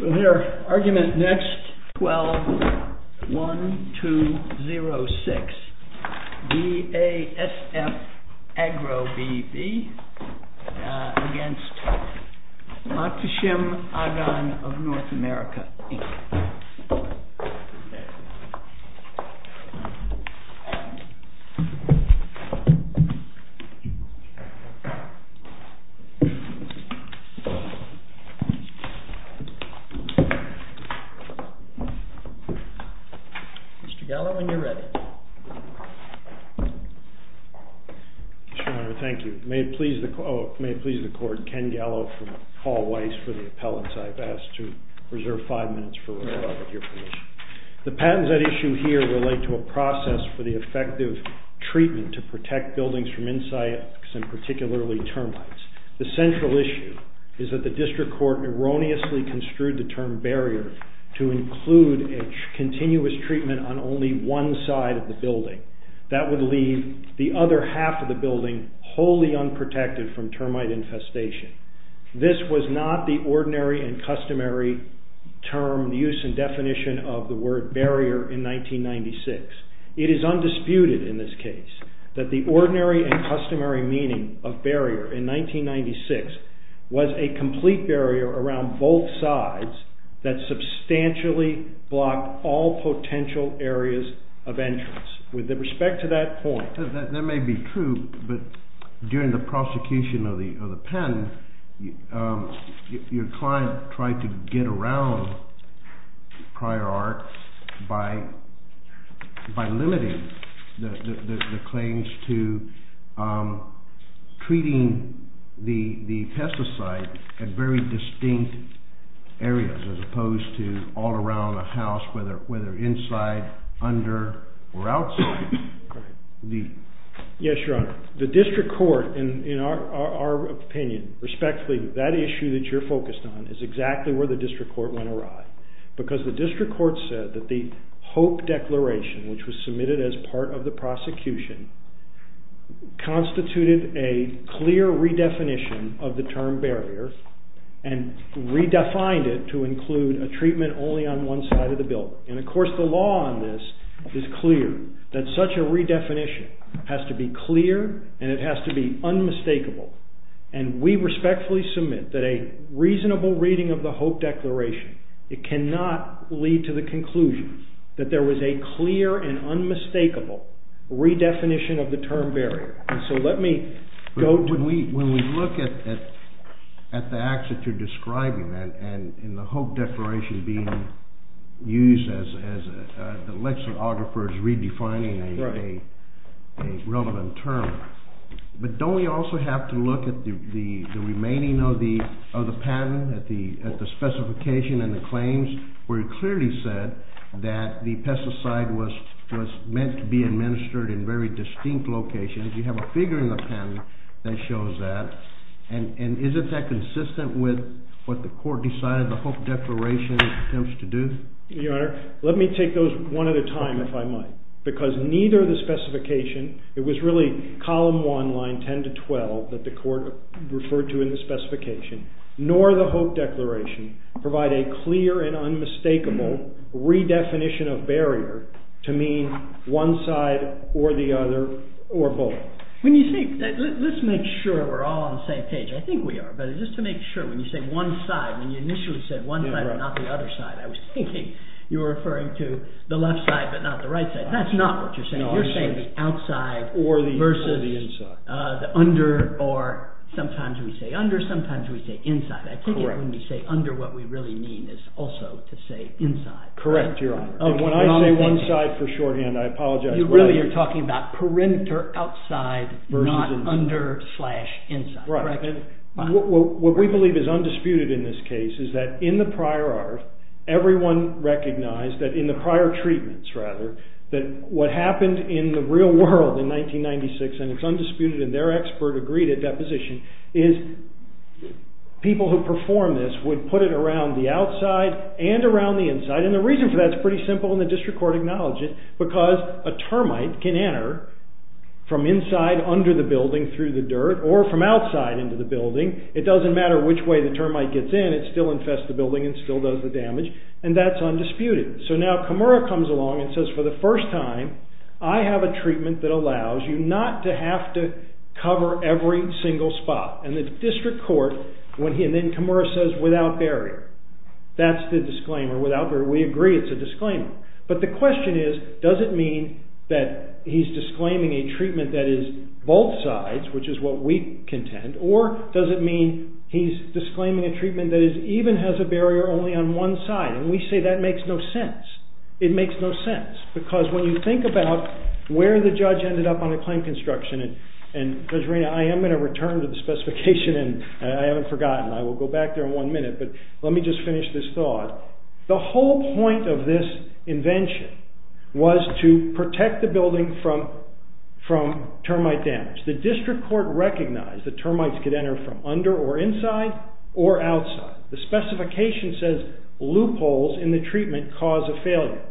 We'll hear argument next 12-1206 BASF AGRO v. MAKHTESHIM AGAN of North America, Inc. Mr. Gallo, when you're ready. Mr. Mayor, thank you. May it please the Court, Ken Gallo from Hall Weiss for the appellants. I've asked to reserve five minutes for your permission. The patents at issue here relate to a process for the effective treatment to protect buildings from insects and particularly termites. The central issue is that the District Court erroneously construed the term barrier to include a continuous treatment on only one side of the building. That would leave the other half of the building wholly unprotected from termite infestation. This was not the ordinary and customary term, the use and definition of the word barrier in 1996. It is undisputed in this case that the ordinary and customary meaning of barrier in 1996 was a complete barrier around both sides that substantially blocked all potential areas of entrance. That may be true, but during the prosecution of the patent, your client tried to get around prior art by limiting the claims to treating the pesticide at very distinct areas, as opposed to all around a house, whether inside, under, or outside. Yes, Your Honor. The District Court, in our opinion, respectfully, that issue that you're focused on is exactly where the District Court went awry. The District Court said that the Hope Declaration, which was submitted as part of the prosecution, constituted a clear redefinition of the term barrier and redefined it to include a treatment only on one side of the building. Of course, the law on this is clear that such a redefinition has to be clear and it has to be unmistakable. And we respectfully submit that a reasonable reading of the Hope Declaration, it cannot lead to the conclusion that there was a clear and unmistakable redefinition of the term barrier. When we look at the acts that you're describing and the Hope Declaration being used as the lexicographer is redefining a relevant term, but don't we also have to look at the remaining of the patent, at the specification and the claims where it clearly said that the pesticide was meant to be administered in very distinct locations? You have a figure in the patent that shows that. And isn't that consistent with what the court decided the Hope Declaration attempts to do? Your Honor, let me take those one at a time if I might. Because neither the specification, it was really column 1, line 10 to 12 that the court referred to in the specification, nor the Hope Declaration provide a clear and unmistakable redefinition of barrier to mean one side or the other or both. Let's make sure we're all on the same page. I think we are. But just to make sure, when you say one side, when you initially said one side but not the other side, I was thinking you were referring to the left side but not the right side. That's not what you're saying. You're saying the outside versus the under or sometimes we say under, sometimes we say inside. I think when we say under, what we really mean is also to say inside. Correct, Your Honor. When I say one side for shorthand, I apologize. You really are talking about perimeter, outside, not under, slash, inside. What we believe is undisputed in this case is that in the prior art, everyone recognized that in the prior treatments, rather, that what happened in the real world in 1996, and it's undisputed and their expert agreed at that position, is people who perform this would put it around the outside and around the inside. The reason for that is pretty simple and the district court acknowledged it because a termite can enter from inside under the building through the dirt or from outside into the building. It doesn't matter which way the termite gets in, it still infests the building and still does the damage and that's undisputed. Now, Kamara comes along and says, for the first time, I have a treatment that allows you not to have to cover every single spot and the district court, and then Kamara says, without barrier. That's the disclaimer, without barrier. We agree it's a disclaimer. But the question is, does it mean that he's disclaiming a treatment that is both sides, which is what we contend, or does it mean he's disclaiming a treatment that even has a barrier only on one side, and we say that makes no sense. It makes no sense because when you think about where the judge ended up on a claim construction, and Regina, I am going to return to the specification and I haven't forgotten. I will go back there in one minute, but let me just finish this thought. The whole point of this invention was to protect the building from termite damage. The district court recognized that termites could enter from under or inside or outside. The specification says loopholes in the treatment cause a failure.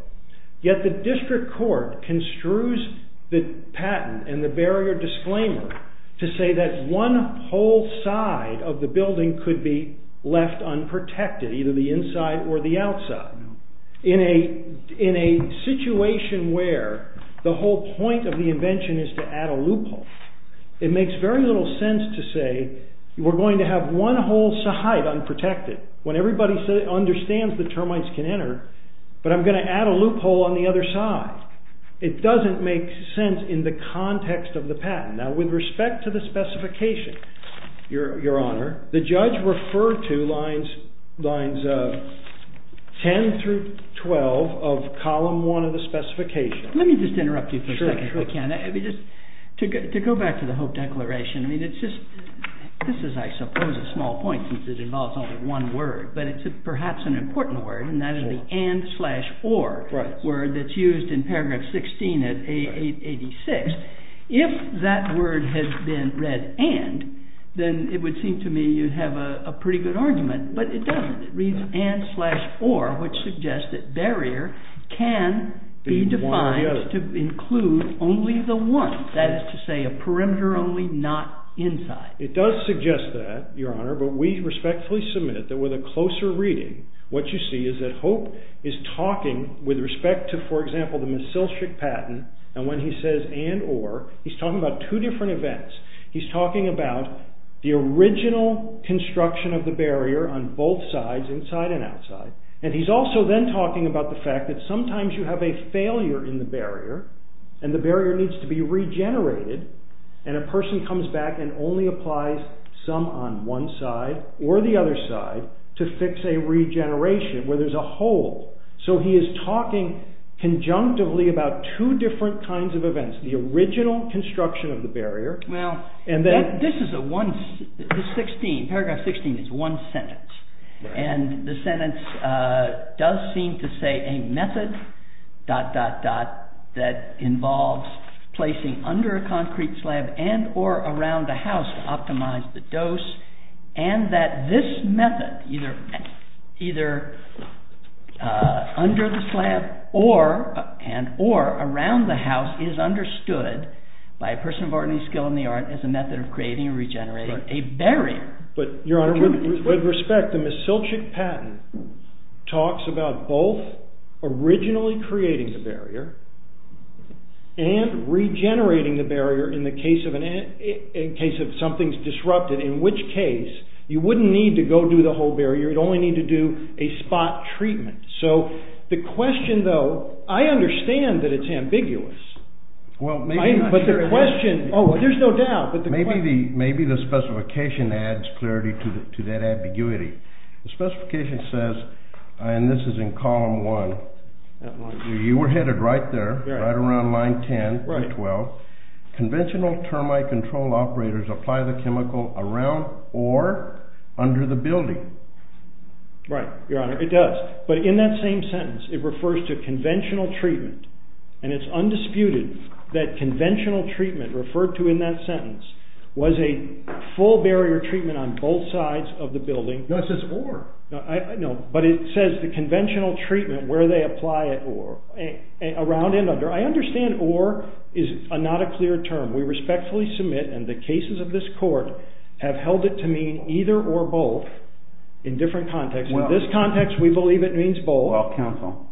Yet the district court construes the patent and the barrier disclaimer to say that one whole side of the building could be left unprotected, either the inside or the outside, in a situation where the whole point of the invention is to add a loophole. It makes very little sense to say we're going to have one whole side unprotected when everybody understands that termites can enter, but I'm going to add a loophole on the other side. It doesn't make sense in the context of the patent. Now, with respect to the specification, your honor, the judge referred to lines 10 through 12 of column one of the specification. Let me just interrupt you for a second, if I can. To go back to the Hope Declaration, this is I suppose a small point since it involves only one word, but it's perhaps an important word, and that is the and slash or word that's used in paragraph 16 of 886. If that word had been read and, then it would seem to me you'd have a pretty good argument, but it doesn't. It reads and slash or, which suggests that barrier can be defined to include only the one, that is to say a perimeter only, not inside. It does suggest that, your honor, but we respectfully submit that with a closer reading, what you see is that Hope is talking with respect to, for example, the Mesilchik patent, and when he says and or, he's talking about two different events. He's talking about the original construction of the barrier on both sides, inside and outside. And he's also then talking about the fact that sometimes you have a failure in the barrier, and the barrier needs to be regenerated, and a person comes back and only applies some on one side or the other side to fix a regeneration where there's a hole. So he is talking conjunctively about two different kinds of events, the original construction of the barrier. Well, this is a one, this 16, paragraph 16 is one sentence, and the sentence does seem to say a method, dot, dot, dot, that involves placing under a concrete slab and or around a house to optimize the dose, and that this method, either under the slab or around the house is understood by a person of ordinary skill, in the art, as a method of creating and regenerating a barrier. With respect, the Mesilchik patent talks about both originally creating the barrier and regenerating the barrier in the case of something's disrupted, in which case, you wouldn't need to go do the whole barrier, you'd only need to do a spot treatment. So, the question though, I understand that it's ambiguous, but the question, oh, there's no doubt. Maybe the specification adds clarity to that ambiguity. The specification says, and this is in column one, you were headed right there, right around line 10 through 12, conventional termite control operators apply the chemical around or under the building. Right, your honor, it does, but in that same sentence, it refers to conventional treatment, and it's undisputed that conventional treatment referred to in that sentence was a full barrier treatment on both sides of the building. No, it says or. In different contexts. In this context, we believe it means both. Well, counsel,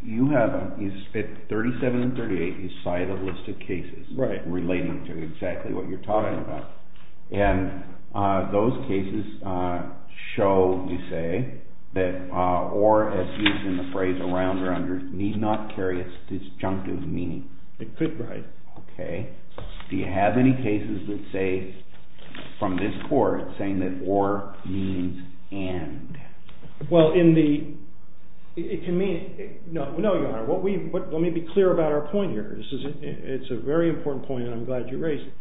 you have, at 37 and 38, you cite a list of cases relating to exactly what you're talking about, and those cases show, you say, that or, as used in the phrase around or under, need not carry a disjunctive meaning. It could, right. Okay. Do you have any cases that say, from this court, saying that or means and? Well, in the, it can mean, no, your honor, let me be clear about our point here. It's a very important point, and I'm glad you raised it.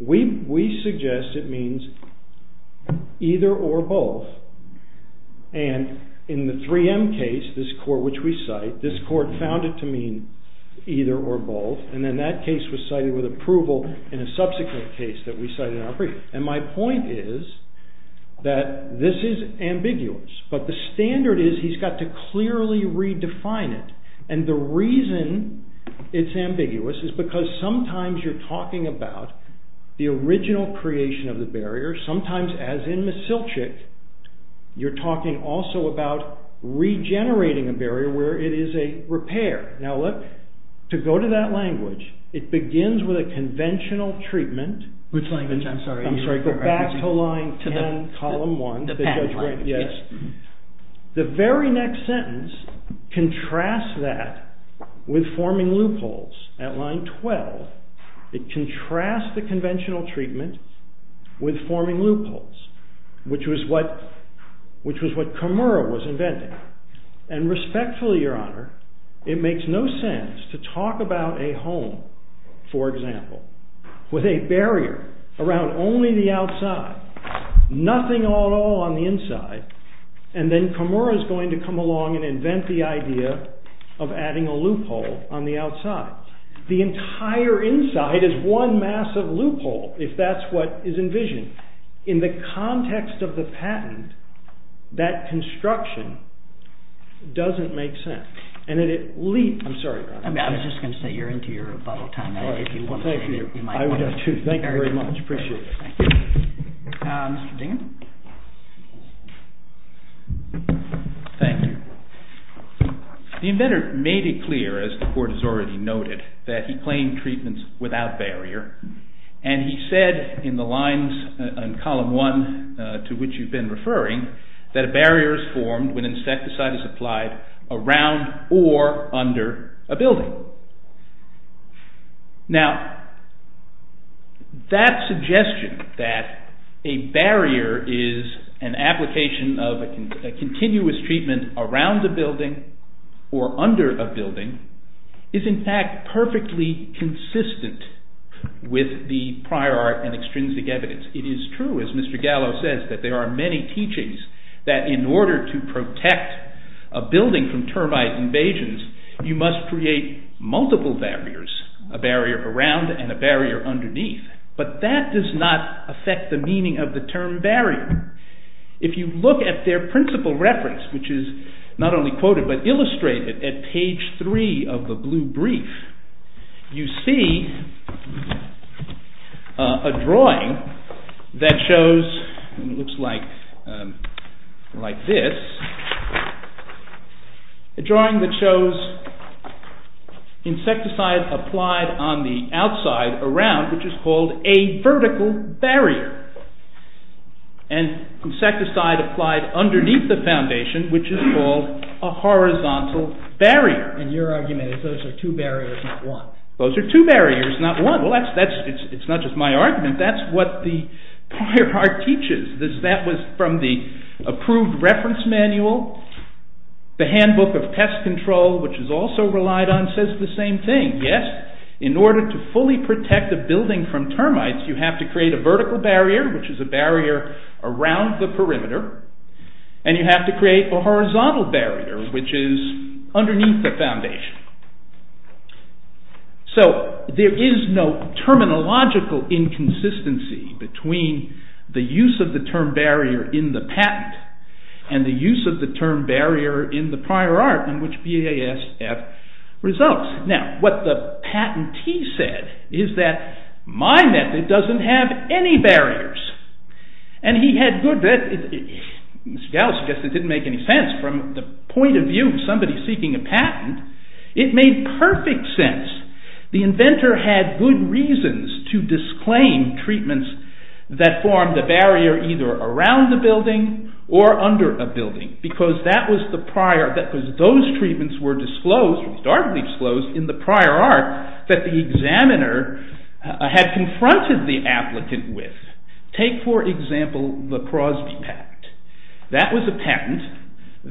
We suggest it means either or both, and in the 3M case, this court which we cite, this court found it to mean either or both, and then that case was cited with approval in a subsequent case that we cited in our brief. And my point is that this is ambiguous, but the standard is he's got to clearly redefine it, and the reason it's ambiguous is because sometimes you're talking about the original creation of the barrier. Sometimes, as in Mesilchik, you're talking also about regenerating a barrier where it is a repair. Now, look, to go to that language, it begins with a conventional treatment. Which language? I'm sorry. I'm sorry. Go back to line 10, column 1. The pen language. Yes. The very next sentence contrasts that with forming loopholes. At line 12, it contrasts the conventional treatment with forming loopholes, which was what Comura was inventing. And respectfully, Your Honor, it makes no sense to talk about a home, for example, with a barrier around only the outside, nothing at all on the inside, and then Comura is going to come along and invent the idea of adding a loophole on the outside. The entire inside is one massive loophole, if that's what is envisioned. In the context of the patent, that construction doesn't make sense. I'm sorry, Your Honor. I was just going to say, you're into your rebuttal time. Thank you. I would have, too. Thank you very much. Appreciate it. Mr. Dingen. Thank you. The inventor made it clear, as the Court has already noted, that he claimed treatments without barrier, and he said in the lines in column 1 to which you've been referring, that a barrier is formed when insecticide is applied around or under a building. Now, that suggestion, that a barrier is an application of a continuous treatment around a building or under a building, is in fact perfectly consistent with the prior art and extrinsic evidence. It is true, as Mr. Gallo says, that there are many teachings that in order to protect a building from termite invasions, you must create multiple barriers, a barrier around and a barrier underneath. But that does not affect the meaning of the term barrier. If you look at their principal reference, which is not only quoted but illustrated at page 3 of the blue brief, you see a drawing that shows, and it looks like this, a drawing that shows insecticide applied on the outside around, which is called a vertical barrier. And insecticide applied underneath the foundation, which is called a horizontal barrier. And your argument is those are two barriers, not one. Those are two barriers, not one. Well, it's not just my argument, that's what the prior art teaches. That was from the approved reference manual. The handbook of pest control, which is also relied on, says the same thing. Yes, in order to fully protect a building from termites, you have to create a vertical barrier, which is a barrier around the perimeter, and you have to create a horizontal barrier, which is underneath the foundation. So, there is no terminological inconsistency between the use of the term barrier in the patent and the use of the term barrier in the prior art in which BASF results. What the patentee said is that my method doesn't have any barriers. And he had good—Mr. Gallo suggested it didn't make any sense from the point of view of somebody seeking a patent. It made perfect sense. The inventor had good reasons to disclaim treatments that form the barrier either around the building or under a building, because that was the prior—because those treatments were disclosed, started to be disclosed, in the prior art that the examiner had confronted the applicant with. Take, for example, the Crosby patent. That was a patent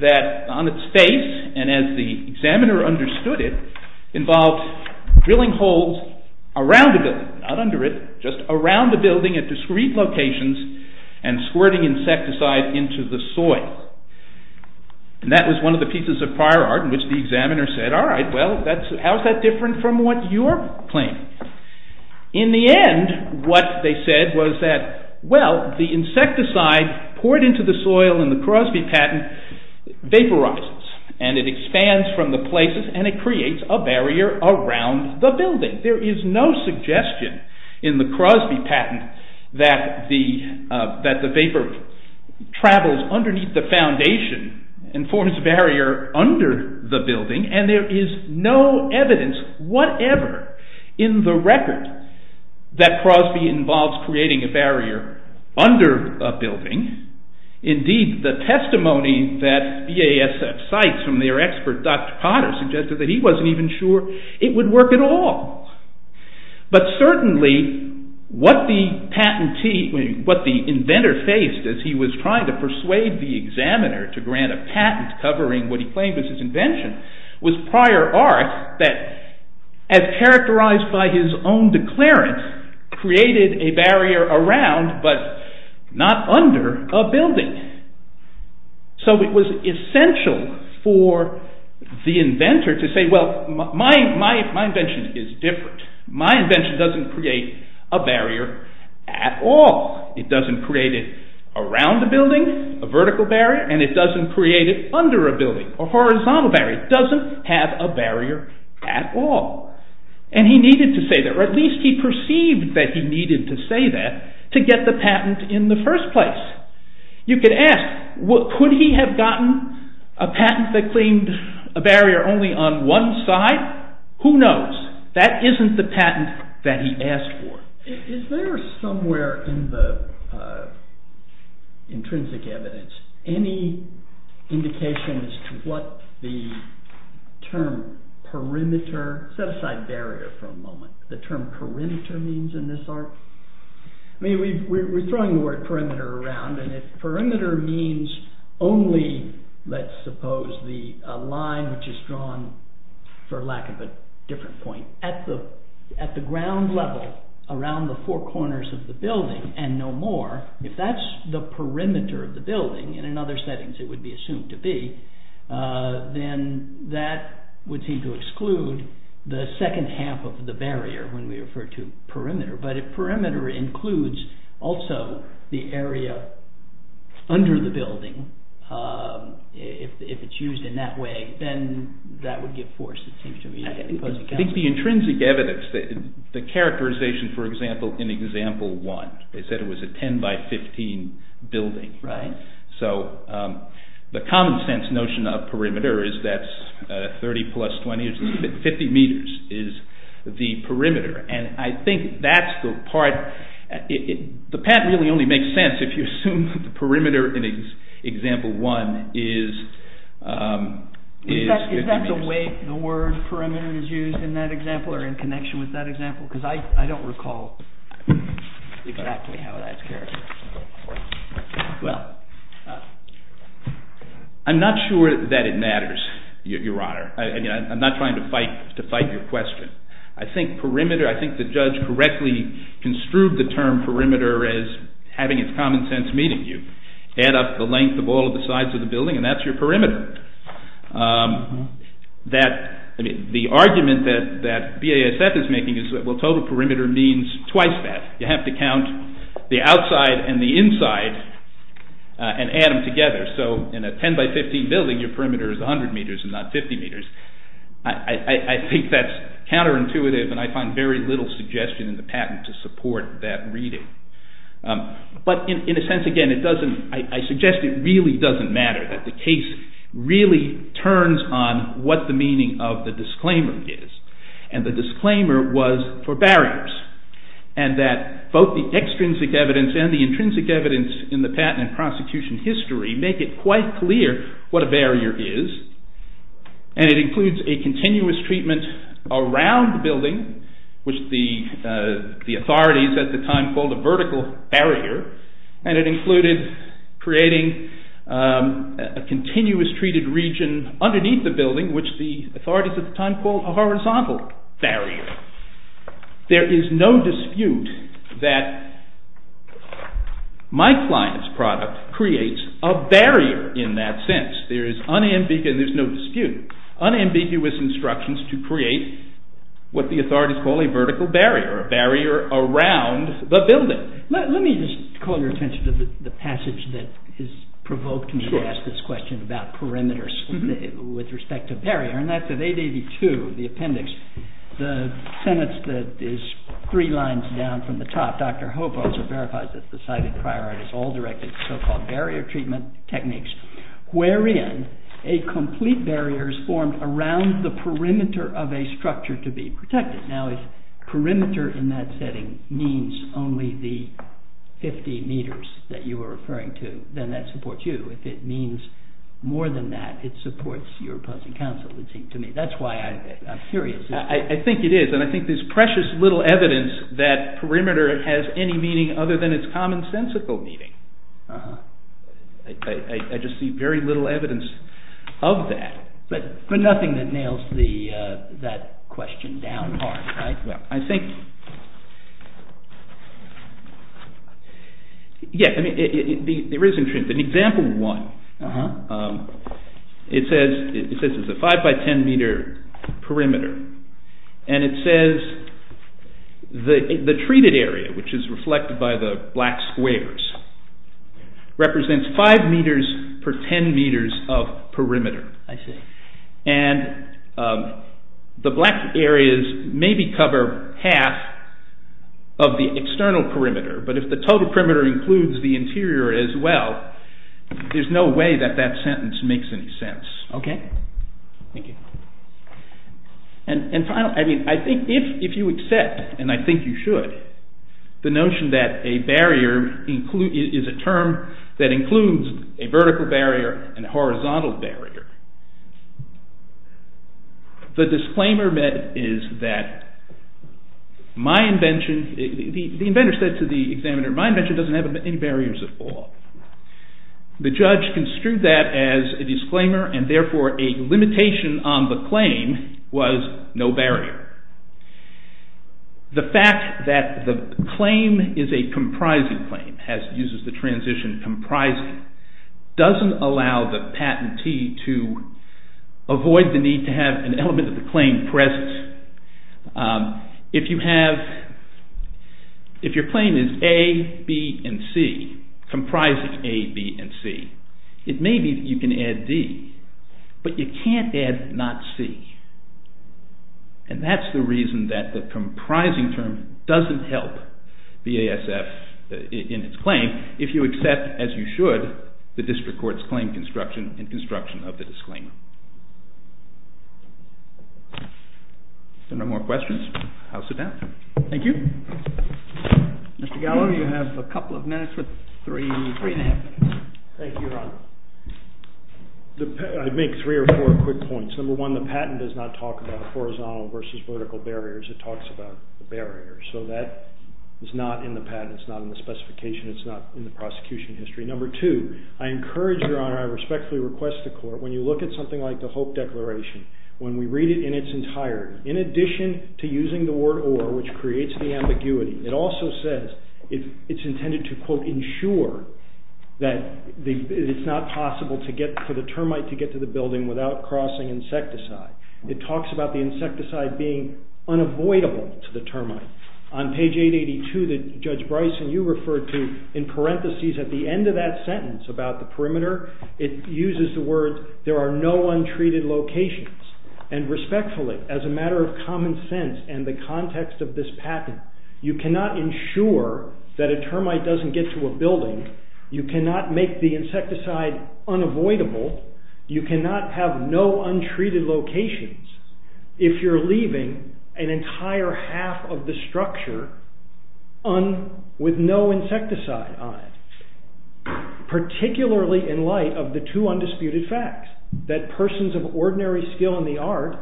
that on its face, and as the examiner understood it, involved drilling holes around the building, not under it, just around the building at discrete locations, and squirting insecticide into the soil. And that was one of the pieces of prior art in which the examiner said, all right, well, how is that different from what you're claiming? In the end, what they said was that, well, the insecticide poured into the soil in the Crosby patent vaporizes, and it expands from the places, and it creates a barrier around the building. There is no suggestion in the Crosby patent that the vapor travels underneath the foundation and forms a barrier under the building, and there is no evidence whatever in the record that Crosby involves creating a barrier under a building. Indeed, the testimony that BASF cites from their expert, Dr. Potter, suggested that he wasn't even sure it would work at all. But certainly, what the inventor faced as he was trying to persuade the examiner to grant a patent covering what he claimed was his invention was prior art that, as characterized by his own declarant, created a barrier around, but not under, a building. So it was essential for the inventor to say, well, my invention is different. My invention doesn't create a barrier at all. It doesn't create it around a building, a vertical barrier, and it doesn't create it under a building, a horizontal barrier. It doesn't have a barrier at all. And he needed to say that, or at least he perceived that he needed to say that to get the patent in the first place. You could ask, could he have gotten a patent that claimed a barrier only on one side? Who knows? That isn't the patent that he asked for. Is there somewhere in the intrinsic evidence any indication as to what the term perimeter, set aside barrier for a moment, the term perimeter means in this art? I mean, we're throwing the word perimeter around, and if perimeter means only, let's suppose, the line which is drawn, for lack of a different point, at the ground level, around the four corners of the building, and no more, if that's the perimeter of the building, and in other settings it would be assumed to be, then that would seem to exclude the second half of the barrier when we refer to perimeter. But if perimeter includes also the area under the building, if it's used in that way, then that would give force, it seems to me. I think the intrinsic evidence, the characterization, for example, in example one, they said it was a 10 by 15 building, so the common sense notion of perimeter is that 30 plus 20, 50 meters is the perimeter, and I think that's the part, the patent really only makes sense if you assume the perimeter in example one is 50 meters. Is that the way the word perimeter is used in that example, or in connection with that example? Because I don't recall exactly how that's characterized. Well, I'm not sure that it matters, your honor. I'm not trying to fight your question. I think perimeter, I think the judge correctly construed the term perimeter as having its common sense meeting you. Add up the length of all the sides of the building and that's your perimeter. The argument that BASF is making is that total perimeter means twice that. You have to count the outside and the inside and add them together, so in a 10 by 15 building your perimeter is 100 meters and not 50 meters. I think that's counterintuitive and I find very little suggestion in the patent to support that reading. But in a sense, again, I suggest it really doesn't matter, that the case really turns on what the meaning of the disclaimer is, and the disclaimer was for barriers, and that both the extrinsic evidence and the intrinsic evidence in the patent and prosecution history make it quite clear what a barrier is, and it includes a continuous treatment around the building, which the authorities at the time called a vertical barrier, and it included creating a continuous treated region underneath the building, which the authorities at the time called a horizontal barrier. There is no dispute that my client's product creates a barrier in that sense. There is no dispute, unambiguous instructions to create what the authorities call a vertical barrier, a barrier around the building. Let me just call your attention to the passage that has provoked me to ask this question about perimeters with respect to barrier, and that's at 882, the appendix, the sentence that is three lines down from the top. Dr. Hobo verifies that the cited priority is all directed to so-called barrier treatment techniques, wherein a complete barrier is formed around the perimeter of a structure to be protected. Now, if perimeter in that setting means only the 50 meters that you were referring to, then that supports you. If it means more than that, it supports your opposing counsel, it seems to me. That's why I'm curious. I think it is, and I think there's precious little evidence that perimeter has any meaning other than its commonsensical meaning. I just see very little evidence of that. But nothing that nails that question down hard, right? It says it's a 5 by 10 meter perimeter, and it says the treated area, which is reflected by the black squares, represents 5 meters per 10 meters of perimeter. And the black areas maybe cover half of the external perimeter, but if the total perimeter includes the interior as well, there's no way that that sentence makes any sense. And finally, I think if you accept, and I think you should, the notion that a barrier is a term that includes a vertical barrier and a horizontal barrier, the disclaimer is that my invention, the inventor said to the examiner, my invention doesn't have any barriers at all. The judge construed that as a disclaimer, and therefore a limitation on the claim was no barrier. The fact that the claim is a comprising claim, uses the transition comprising, doesn't allow the patentee to avoid the need to have an element of the claim pressed. If your claim is A, B, and C, comprising A, B, and C, it may be that you can add D, but you can't add not C. And that's the reason that the comprising term doesn't help the ASF in its claim if you accept, as you should, the district court's claim construction and construction of the disclaimer. If there are no more questions, I'll sit down. Thank you. Mr. Gallo, you have a couple of minutes with three and a half minutes. Thank you, Your Honor. I'd make three or four quick points. Number one, the patent does not talk about horizontal versus vertical barriers. It talks about the barriers. So that is not in the patent. It's not in the specification. It's not in the prosecution history. Number two, I encourage Your Honor, I respectfully request the court, when you look at something like the Hope Declaration, when we read it in its entirety, in addition to using the word or, which creates the ambiguity, it also says it's intended to, quote, ensure that it's not possible for the termite to get to the building without crossing insecticide. It talks about the insecticide being unavoidable to the termite. On page 882 that Judge Bryson, you referred to, in parentheses at the end of that sentence about the perimeter, it uses the words, there are no untreated locations. And respectfully, as a matter of common sense and the context of this patent, you cannot ensure that a termite doesn't get to a building. You cannot make the insecticide unavoidable. You cannot have no untreated locations if you're leaving an entire half of the structure with no insecticide on it. Particularly in light of the two undisputed facts that persons of ordinary skill in the art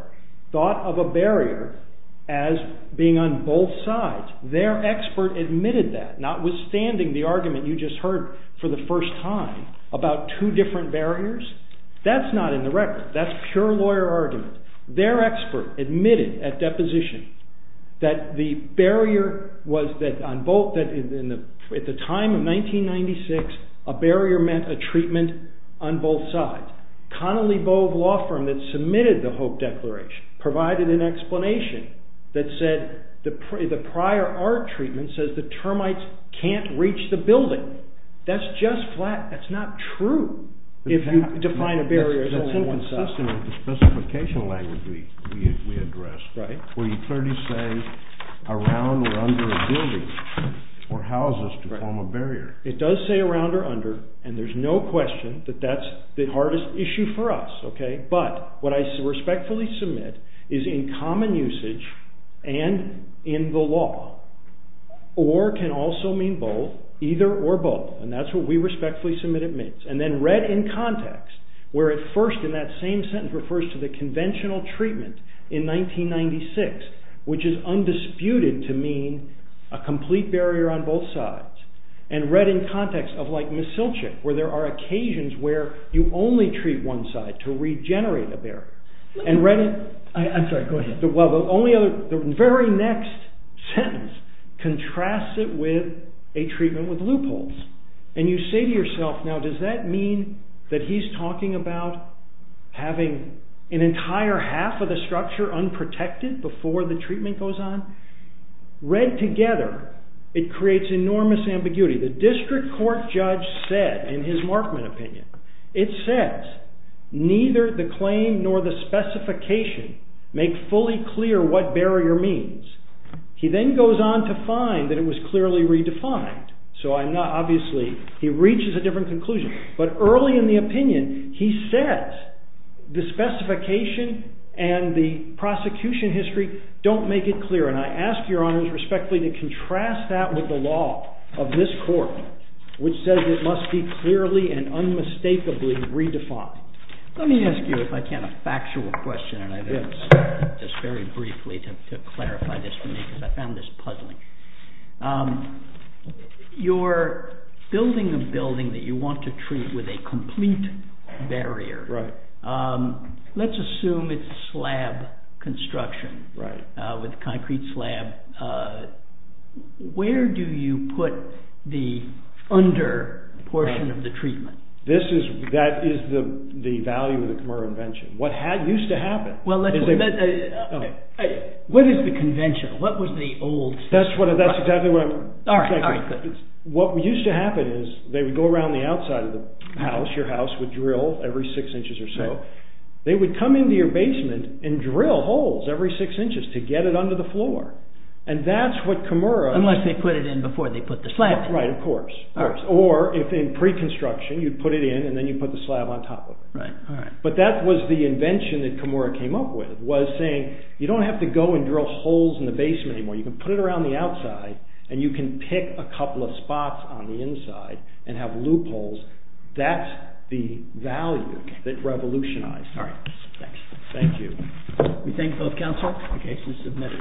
thought of a barrier as being on both sides. Their expert admitted that, notwithstanding the argument you just heard for the first time about two different barriers. That's not in the record. That's pure lawyer argument. Their expert admitted at deposition that the barrier was that at the time of 1996, a barrier meant a treatment on both sides. Connelly Bove Law Firm that submitted the Hope Declaration provided an explanation that said the prior art treatment says the termites can't reach the building. That's just flat. That's not true if you define a barrier as only on one side. That's inconsistent with the specification language we addressed. Where you clearly say around or under a building or houses to form a barrier. It does say around or under and there's no question that that's the hardest issue for us. But what I respectfully submit is in common usage and in the law. Or can also mean both. Either or both. And that's what we respectfully submit it means. And then read in context. Where at first in that same sentence refers to the conventional treatment in 1996. Which is undisputed to mean a complete barrier on both sides. And read in context of like Mesilchik where there are occasions where you only treat one side to regenerate a barrier. I'm sorry go ahead. The very next sentence contrasts it with a treatment with loopholes. And you say to yourself now does that mean that he's talking about having an entire half of the structure unprotected before the treatment goes on. Read together it creates enormous ambiguity. The district court judge said in his Markman opinion. It says neither the claim nor the specification make fully clear what barrier means. He then goes on to find that it was clearly redefined. So I'm not obviously he reaches a different conclusion. But early in the opinion he says the specification and the prosecution history don't make it clear. And I ask your honors respectfully to contrast that with the law of this court. Which says it must be clearly and unmistakably redefined. Let me ask you if I can a factual question. Just very briefly to clarify this for me. Because I found this puzzling. You're building a building that you want to treat with a complete barrier. Let's assume it's slab construction. With concrete slab. Where do you put the under portion of the treatment? That is the value of the Kemur invention. What used to happen. What is the convention? What was the old? That's exactly what I'm thinking. What used to happen is they would go around the outside of the house. Your house would drill every six inches or so. They would come into your basement and drill holes every six inches to get it under the floor. And that's what Kemur. Unless they put it in before they put the slab. Right of course. Or if in pre-construction you put it in and then you put the slab on top of it. But that was the invention that Kemur came up with. Was saying you don't have to go and drill holes in the basement anymore. You can put it around the outside. And you can pick a couple of spots on the inside. And have loopholes. That's the value that revolutionized. Alright. Thanks. Thank you. We thank both counsel. The case is submitted.